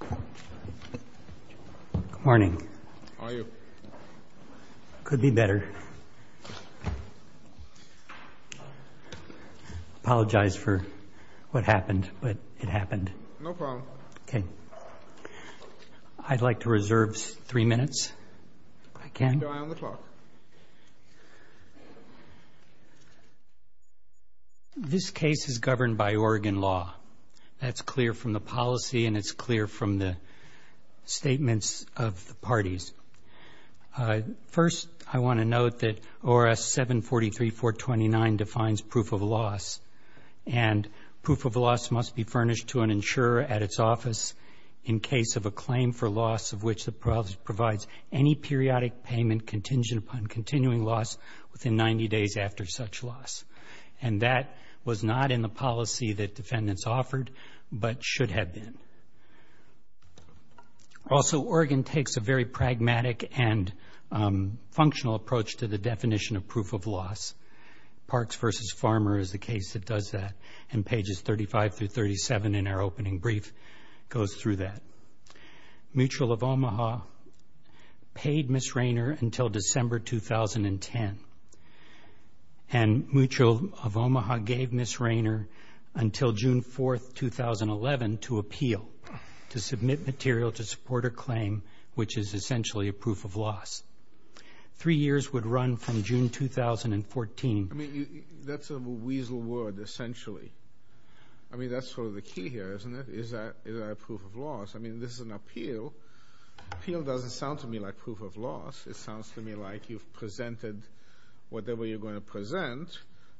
Good morning. How are you? Could be better. Apologize for what happened, but it happened. No problem. Okay. I'd like to reserve three minutes, if I can. Keep your eye on the clock. This case is governed by Oregon law. That's clear from the policy, and it's clear from the statements of the parties. First, I want to note that ORS 743-429 defines proof of loss, and proof of loss must be furnished to an insurer at its office in case of a claim for loss of which the province provides any periodic payment contingent upon continuing loss within 90 days after such loss. And that was not in the policy that defendants offered, but should have been. Also, Oregon takes a very pragmatic and functional approach to the definition of proof of loss. Parks v. Farmer is the case that does that, and pages 35-37 in our opening brief goes through that. Mutual of Omaha paid Ms. Raynor until December 2010, and Mutual of Omaha gave Ms. Raynor until June 4, 2011, to appeal to submit material to support a claim which is essentially a proof of loss. Three years would run from June 2014. I mean, that's a weasel word, essentially. I mean, that's sort of the key here, isn't it? Is that a proof of loss? I mean, this is an appeal. Appeal doesn't sound to me like proof of loss. It sounds to me like you've presented whatever you're going to present,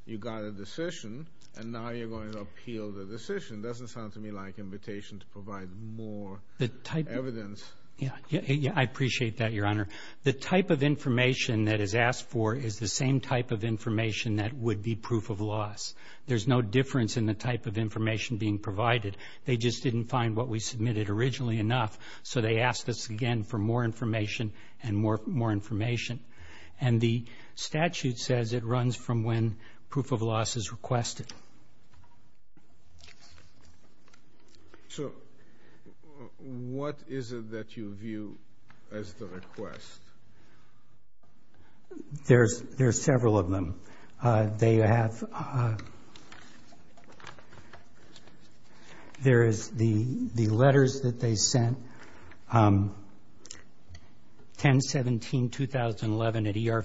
you got a decision, and now you're going to appeal the decision. It doesn't sound to me like an invitation to provide more evidence. Yeah, I appreciate that, Your Honor. The type of information that is asked for is the same type of information that would be proof of loss. There's no difference in the type of information being provided. They just didn't find what we submitted originally enough, so they asked us again for more information and more information. And the statute says it runs from when proof of loss is requested. So what is it that you view as the request? There's several of them. There is the letters that they sent. 10-17-2011 at ER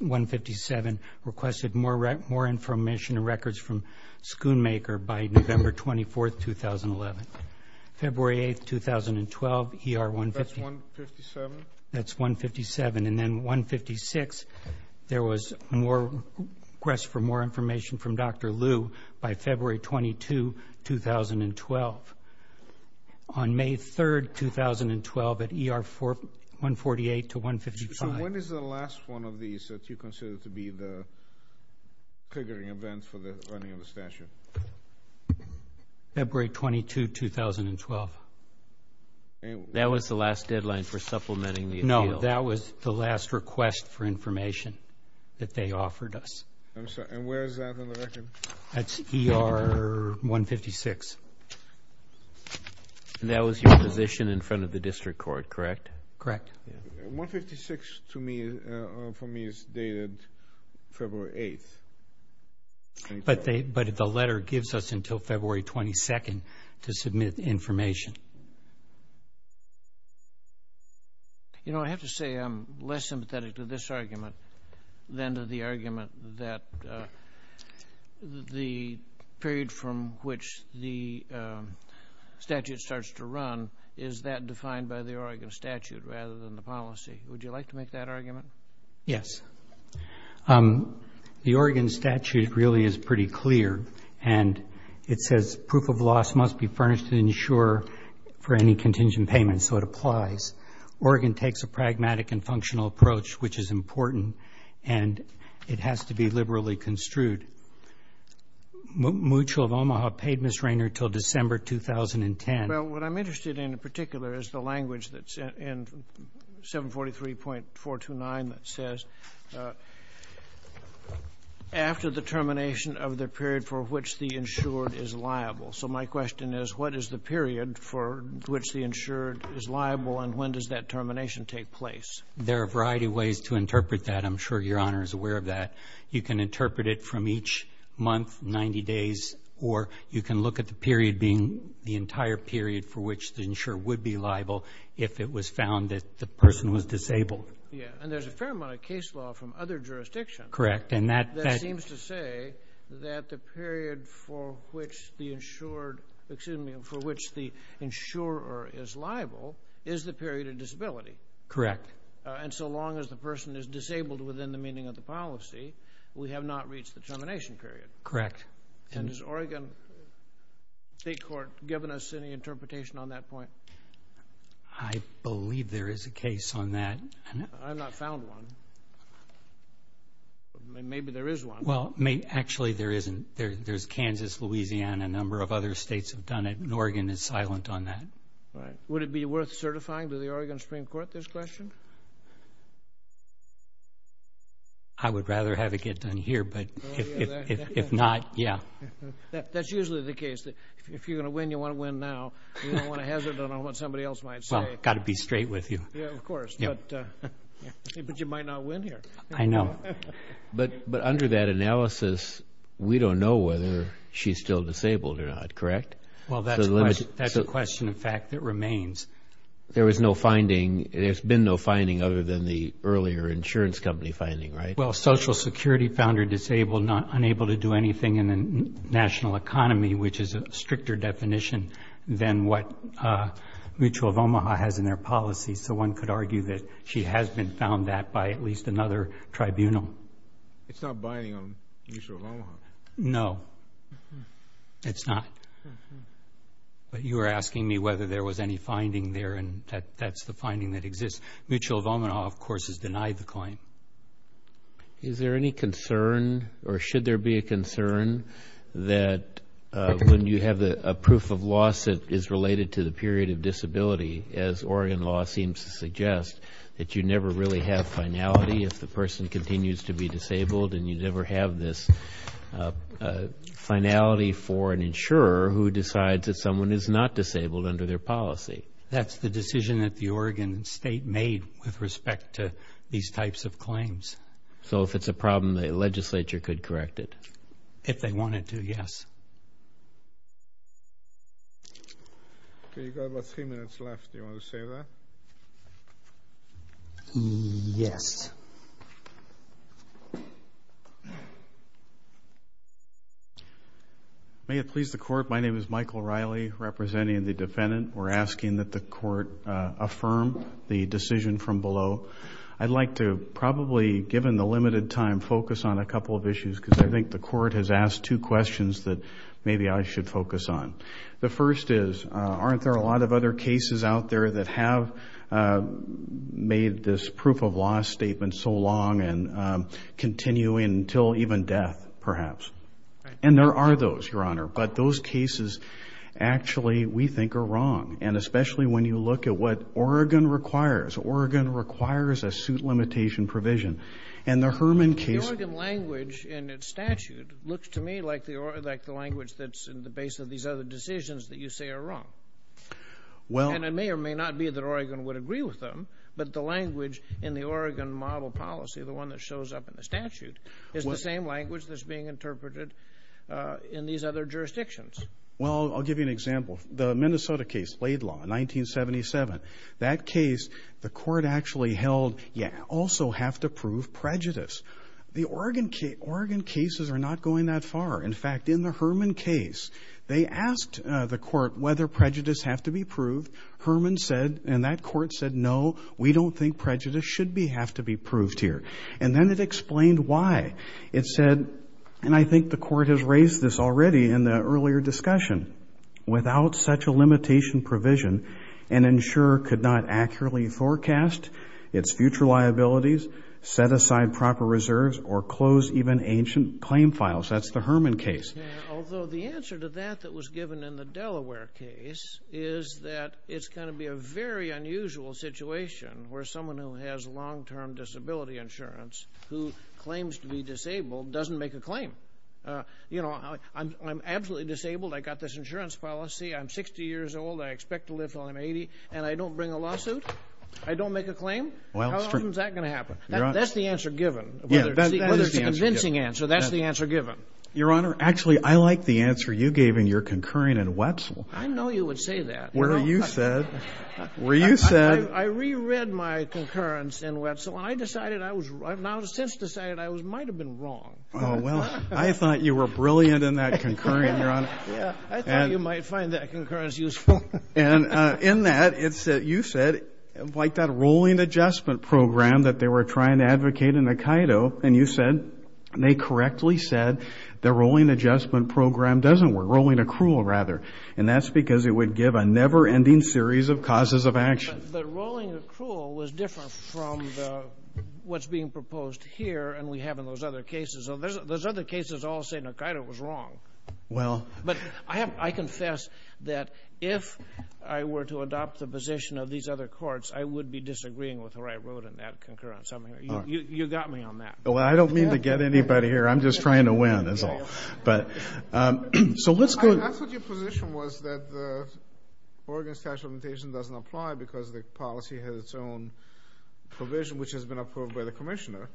157 requested more information and records from Schoonmaker by November 24th, 2011. February 8th, 2012, ER 157. That's 157? That's 157. And then 156, there was more request for more information from Dr. Lu by February 22, 2012. On May 3rd, 2012, at ER 148 to 155. So when is the last one of these that you consider to be the triggering event for the running of the statute? February 22, 2012. That was the last deadline for supplementing the appeal. No, that was the last request for information that they offered us. That's ER 156. And that was your position in front of the district court, correct? Correct. 156, for me, is dated February 8th. But the letter gives us until February 22nd to submit information. You know, I have to say I'm less sympathetic to this argument than to the argument that the period from which the statute starts to run is that defined by the Oregon statute rather than the policy. Would you like to make that argument? Yes. The Oregon statute really is pretty clear, and it says proof of loss must be furnished to insure for any contingent payment, so it applies. Oregon takes a pragmatic and functional approach, which is important, and it has to be liberally construed. Mutual of Omaha paid Ms. Rainer until December 2010. Well, what I'm interested in in particular is the language that's in 743.429 that says after the termination of the period for which the insured is liable. So my question is, what is the period for which the insured is liable, and when does that termination take place? There are a variety of ways to interpret that. I'm sure Your Honor is aware of that. You can interpret it from each month, 90 days, or you can look at the period being the entire period for which the insurer would be liable if it was found that the person was disabled. Yeah, and there's a fair amount of case law from other jurisdictions. Correct. And that seems to say that the period for which the insured, excuse me, for which the insurer is liable is the period of disability. Correct. And so long as the person is disabled within the meaning of the policy, we have not reached the termination period. Correct. And has Oregon State Court given us any interpretation on that point? I believe there is a case on that. I have not found one. Maybe there is one. Well, actually there isn't. There's Kansas, Louisiana, a number of other states have done it, and Oregon is silent on that. Would it be worth certifying to the Oregon Supreme Court this question? I would rather have it get done here, but if not, yeah. That's usually the case. If you're going to win, you want to win now. You don't want to hazard on what somebody else might say. Well, I've got to be straight with you. Yeah, of course. But you might not win here. I know. But under that analysis, we don't know whether she's still disabled or not, correct? Well, that's a question, in fact, that remains. There was no finding. There's been no finding other than the earlier insurance company finding, right? Well, Social Security found her disabled, unable to do anything in the national economy, which is a stricter definition than what Mutual of Omaha has in their policy. So one could argue that she has been found that by at least another tribunal. It's not binding on Mutual of Omaha. No, it's not. But you were asking me whether there was any finding there, and that's the finding that exists. Mutual of Omaha, of course, has denied the claim. Is there any concern or should there be a concern that when you have a proof of loss that is related to the period of disability, as Oregon law seems to suggest, that you never really have finality if the person continues to be disabled and you never have this finality for an insurer who decides that someone is not disabled under their policy? That's the decision that the Oregon state made with respect to these types of claims. So if it's a problem, the legislature could correct it? If they wanted to, yes. Okay, you've got about three minutes left. Do you want to say that? Yes. May it please the Court, my name is Michael Riley, representing the defendant. We're asking that the Court affirm the decision from below. I'd like to probably, given the limited time, focus on a couple of issues because I think the Court has asked two questions that maybe I should focus on. The first is, aren't there a lot of other cases out there that have made this proof of loss statement so long and continue until even death, perhaps? And there are those, Your Honor, but those cases actually we think are wrong, and especially when you look at what Oregon requires. Oregon requires a suit limitation provision. And the Herman case. The Oregon language in its statute looks to me like the language that's in the base of these other decisions that you say are wrong. And it may or may not be that Oregon would agree with them, but the language in the Oregon model policy, the one that shows up in the statute, is the same language that's being interpreted in these other jurisdictions. Well, I'll give you an example. The Minnesota case, Blade Law, 1977. That case, the Court actually held, you also have to prove prejudice. The Oregon cases are not going that far. In fact, in the Herman case, they asked the Court whether prejudice have to be proved. Herman said, and that Court said, no, we don't think prejudice should have to be proved here. And then it explained why. It said, and I think the Court has raised this already in the earlier discussion, without such a limitation provision, an insurer could not accurately forecast its future liabilities, set aside proper reserves, or close even ancient claim files. That's the Herman case. Although the answer to that that was given in the Delaware case is that it's going to be a very unusual situation where someone who has long-term disability insurance who claims to be disabled doesn't make a claim. You know, I'm absolutely disabled. I got this insurance policy. I'm 60 years old. I expect to live till I'm 80. And I don't bring a lawsuit? I don't make a claim? How often is that going to happen? That's the answer given. Whether it's a convincing answer, that's the answer given. Your Honor, actually, I like the answer you gave in your concurring in Wetzel. I know you would say that. Well, you said. Well, you said. I reread my concurrence in Wetzel. And I decided I was right. And I've since decided I might have been wrong. Oh, well, I thought you were brilliant in that concurrence, Your Honor. Yeah, I thought you might find that concurrence useful. And in that, you said, like, that rolling adjustment program that they were trying to advocate in the CAIDO. And you said, and they correctly said, the rolling adjustment program doesn't work, rolling accrual, rather. And that's because it would give a never-ending series of causes of action. But rolling accrual was different from what's being proposed here and we have in those other cases. Those other cases all say CAIDO was wrong. Well. But I confess that if I were to adopt the position of these other courts, I would be disagreeing with where I wrote in that concurrence. You got me on that. Well, I don't mean to get anybody here. I'm just trying to win, that's all. So let's go. I thought your position was that the Oregon Statute of Limitation doesn't apply because the policy has its own provision, which has been approved by the commissioner.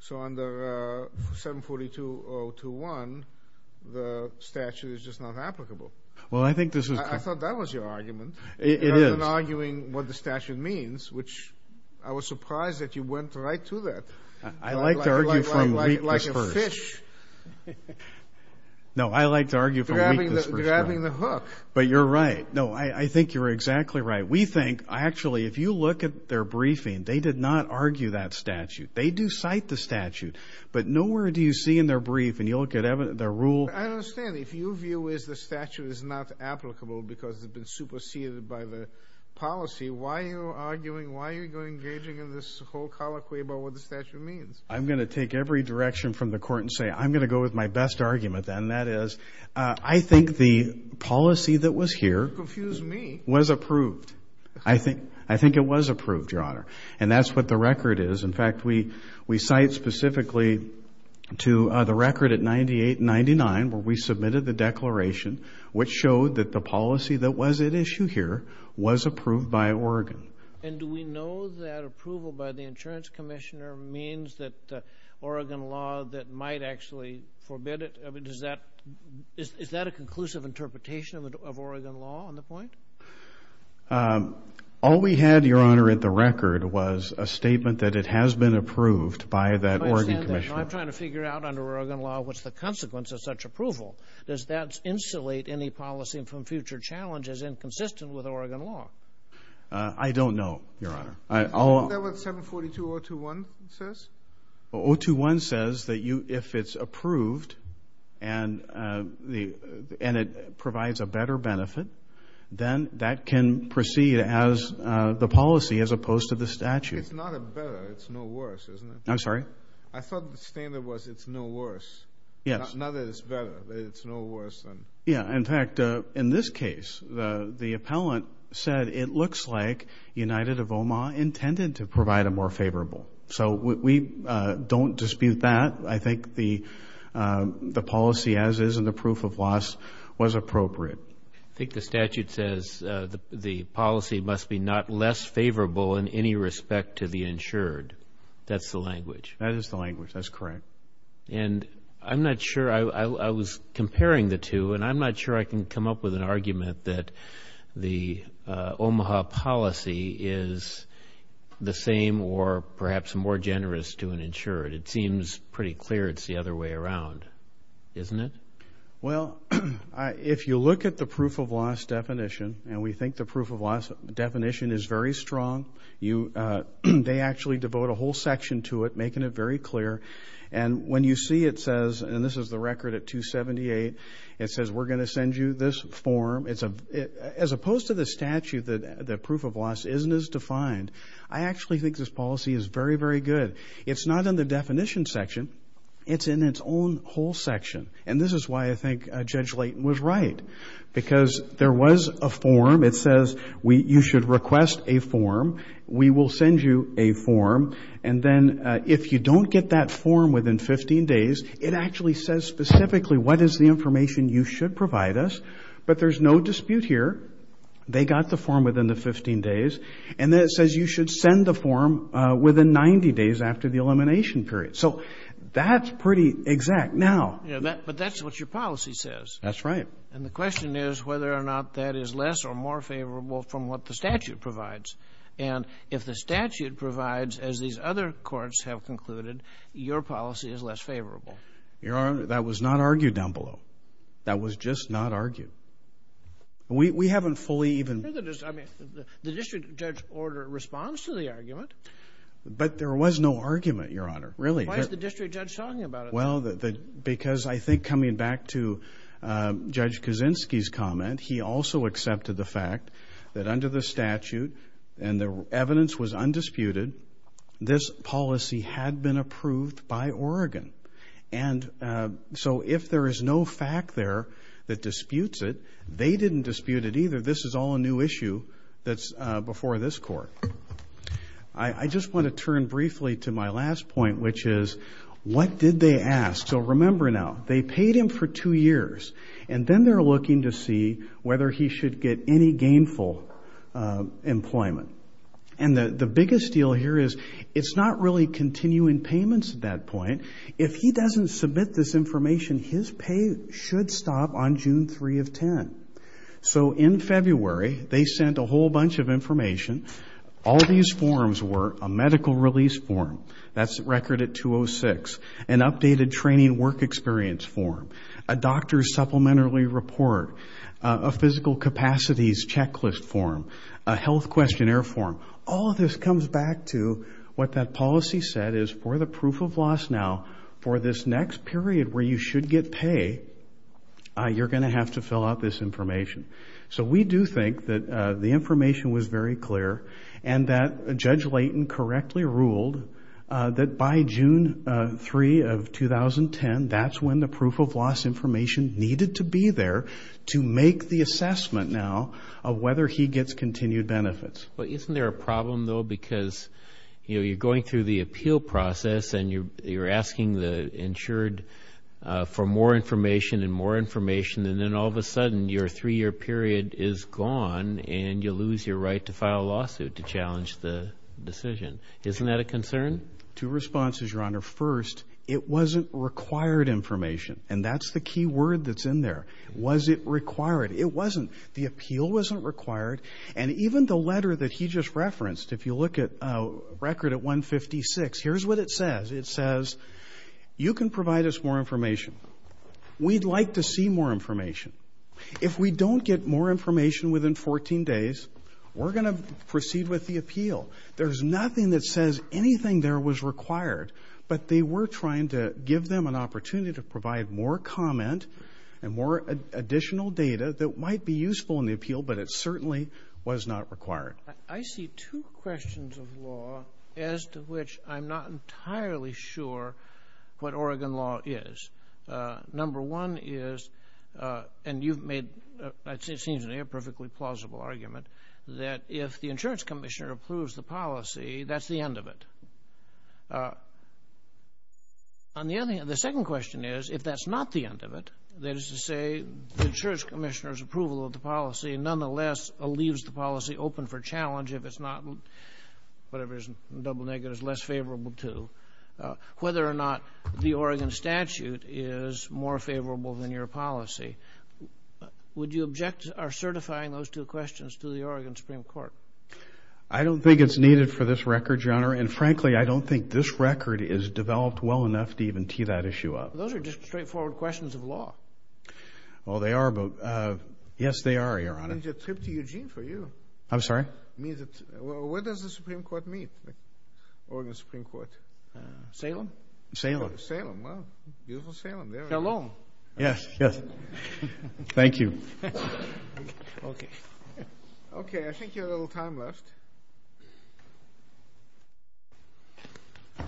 So under 742.021, the statute is just not applicable. Well, I think this is. I thought that was your argument. It is. Rather than arguing what the statute means, which I was surprised that you went right to that. I like to argue from weakness first. Like a fish. No, I like to argue from weakness first. Grabbing the hook. But you're right. No, I think you're exactly right. We think, actually, if you look at their briefing, they did not argue that statute. They do cite the statute. But nowhere do you see in their brief and you look at their rule. I understand. If your view is the statute is not applicable because it's been superseded by the policy, why are you arguing, why are you engaging in this whole colloquy about what the statute means? I'm going to take every direction from the court and say I'm going to go with my best argument, and that is I think the policy that was here was approved. I think it was approved, Your Honor, and that's what the record is. In fact, we cite specifically to the record at 98 and 99 where we submitted the declaration, which showed that the policy that was at issue here was approved by Oregon. And do we know that approval by the insurance commissioner means that Oregon law that might actually forbid it? Is that a conclusive interpretation of Oregon law on the point? All we had, Your Honor, at the record was a statement that it has been approved by that Oregon commissioner. I'm trying to figure out under Oregon law what's the consequence of such approval. Does that insulate any policy from future challenges inconsistent with Oregon law? I don't know, Your Honor. Is that what 742.021 says? 021 says that if it's approved and it provides a better benefit, then that can proceed as the policy as opposed to the statute. It's not a better. It's no worse, isn't it? I'm sorry? I thought the standard was it's no worse. Yes. Not that it's better. It's no worse than. Yeah, in fact, in this case, the appellant said it looks like United of Omaha intended to provide a more favorable. So we don't dispute that. I think the policy as is and the proof of loss was appropriate. I think the statute says the policy must be not less favorable in any respect to the insured. That's the language. That is the language. That's correct. And I'm not sure. I was comparing the two, and I'm not sure I can come up with an argument that the Omaha policy is the same or perhaps more generous to an insured. It seems pretty clear it's the other way around, isn't it? Well, if you look at the proof of loss definition, and we think the proof of loss definition is very strong, they actually devote a whole section to it, making it very clear. And when you see it says, and this is the record at 278, it says we're going to send you this form. As opposed to the statute, the proof of loss isn't as defined. I actually think this policy is very, very good. It's not in the definition section. It's in its own whole section. And this is why I think Judge Layton was right because there was a form. It says you should request a form. We will send you a form. And then if you don't get that form within 15 days, it actually says specifically what is the information you should provide us. But there's no dispute here. They got the form within the 15 days. And then it says you should send the form within 90 days after the elimination period. So that's pretty exact. Now. But that's what your policy says. That's right. And the question is whether or not that is less or more favorable from what the statute provides. And if the statute provides, as these other courts have concluded, your policy is less favorable. Your Honor, that was not argued down below. That was just not argued. We haven't fully even. I mean, the district judge order responds to the argument. But there was no argument, Your Honor. Really. Why is the district judge talking about it? Well, because I think coming back to Judge Kaczynski's comment, he also accepted the fact that under the statute, and the evidence was undisputed, this policy had been approved by Oregon. And so if there is no fact there that disputes it, they didn't dispute it either. This is all a new issue that's before this Court. I just want to turn briefly to my last point, which is what did they ask? So remember now, they paid him for two years. And then they're looking to see whether he should get any gainful employment. And the biggest deal here is it's not really continuing payments at that point. If he doesn't submit this information, his pay should stop on June 3 of 10. So in February, they sent a whole bunch of information. All these forms were a medical release form. That's record at 206. An updated training work experience form. A doctor's supplementary report. A physical capacities checklist form. A health questionnaire form. All of this comes back to what that policy said is for the proof of loss now, for this next period where you should get pay, you're going to have to fill out this information. So we do think that the information was very clear, and that Judge Layton correctly ruled that by June 3 of 2010, that's when the proof of loss information needed to be there to make the assessment now of whether he gets continued benefits. But isn't there a problem, though, because, you know, you're going through the appeal process and you're asking the insured for more information and more information, and then all of a sudden your three-year period is gone and you lose your right to file a lawsuit to challenge the decision. Isn't that a concern? Two responses, Your Honor. First, it wasn't required information, and that's the key word that's in there. Was it required? It wasn't. The appeal wasn't required. And even the letter that he just referenced, if you look at record at 156, here's what it says. It says, you can provide us more information. We'd like to see more information. If we don't get more information within 14 days, we're going to proceed with the appeal. There's nothing that says anything there was required, but they were trying to give them an opportunity to provide more comment and more additional data that might be useful in the appeal, but it certainly was not required. I see two questions of law as to which I'm not entirely sure what Oregon law is. Number one is, and you've made, it seems to me, a perfectly plausible argument, that if the insurance commissioner approves the policy, that's the end of it. On the other hand, the second question is, if that's not the end of it, that is to say the insurance commissioner's approval of the policy nonetheless leaves the policy open for challenge, if it's not, whatever is in double negatives, less favorable to, whether or not the Oregon statute is more favorable than your policy. Would you object to our certifying those two questions to the Oregon Supreme Court? Your Honor, and frankly, I don't think this record is developed well enough to even tee that issue up. Those are just straightforward questions of law. Well, they are, but yes, they are, Your Honor. Why don't you trip to Eugene for you? I'm sorry? Where does the Supreme Court meet, Oregon Supreme Court? Salem? Salem. Salem, well, beautiful Salem. Shalom. Yes, yes. Thank you. Okay. Okay, I think you have a little time left. What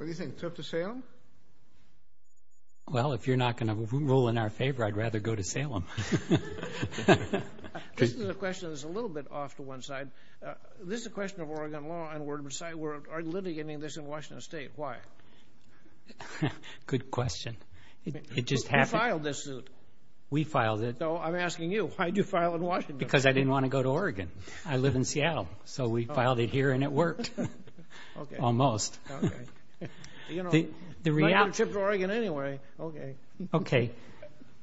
do you think, trip to Salem? Well, if you're not going to rule in our favor, I'd rather go to Salem. This is a question that's a little bit off to one side. This is a question of Oregon law, and we're litigating this in Washington State. Why? Good question. We filed this suit. We filed it. I'm asking you, why did you file in Washington? Because I didn't want to go to Oregon. I live in Seattle, so we filed it here and it worked, almost. Okay. You know, I'm going to trip to Oregon anyway. Okay. Okay.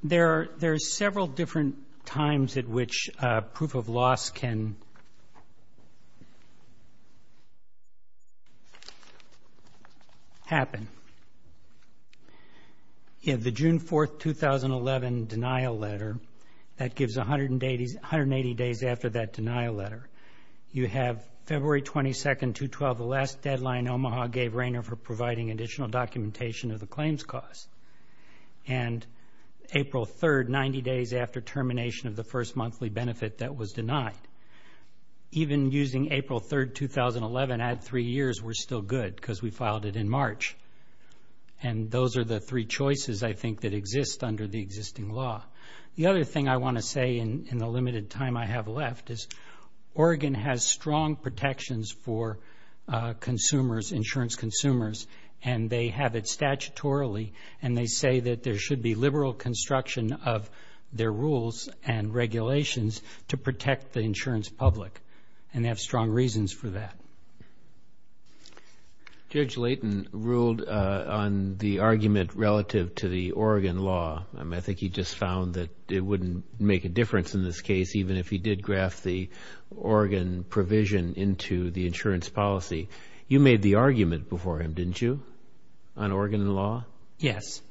There are several different times at which proof of loss can happen. You have the June 4, 2011, denial letter. That gives 180 days after that denial letter. You have February 22, 2012, the last deadline Omaha gave Rainer for providing additional documentation of the claims cost. And April 3, 90 days after termination of the first monthly benefit that was denied. Even using April 3, 2011, add three years, we're still good because we filed it in March. And those are the three choices, I think, that exist under the existing law. The other thing I want to say in the limited time I have left is Oregon has strong protections for consumers, insurance consumers, and they have it statutorily, and they say that there should be liberal construction of their rules and regulations to protect the insurance public, and they have strong reasons for that. Judge Layton ruled on the argument relative to the Oregon law. I think he just found that it wouldn't make a difference in this case, even if he did graft the Oregon provision into the insurance policy. You made the argument before him, didn't you, on Oregon law? Yes.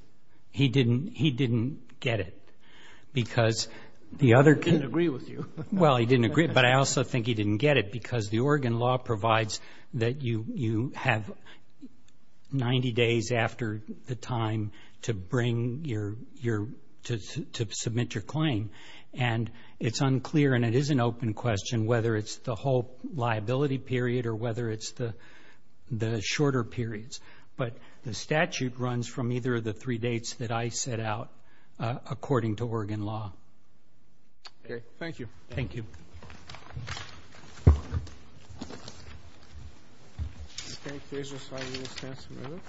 He didn't get it because the other can't agree with you. Well, he didn't agree, but I also think he didn't get it because the Oregon law provides that you have 90 days after the time to bring your to submit your claim, and it's unclear and it is an open question whether it's the whole liability period or whether it's the shorter periods. But the statute runs from either of the three dates that I set out according to Oregon law. Okay. Thank you. Thank you.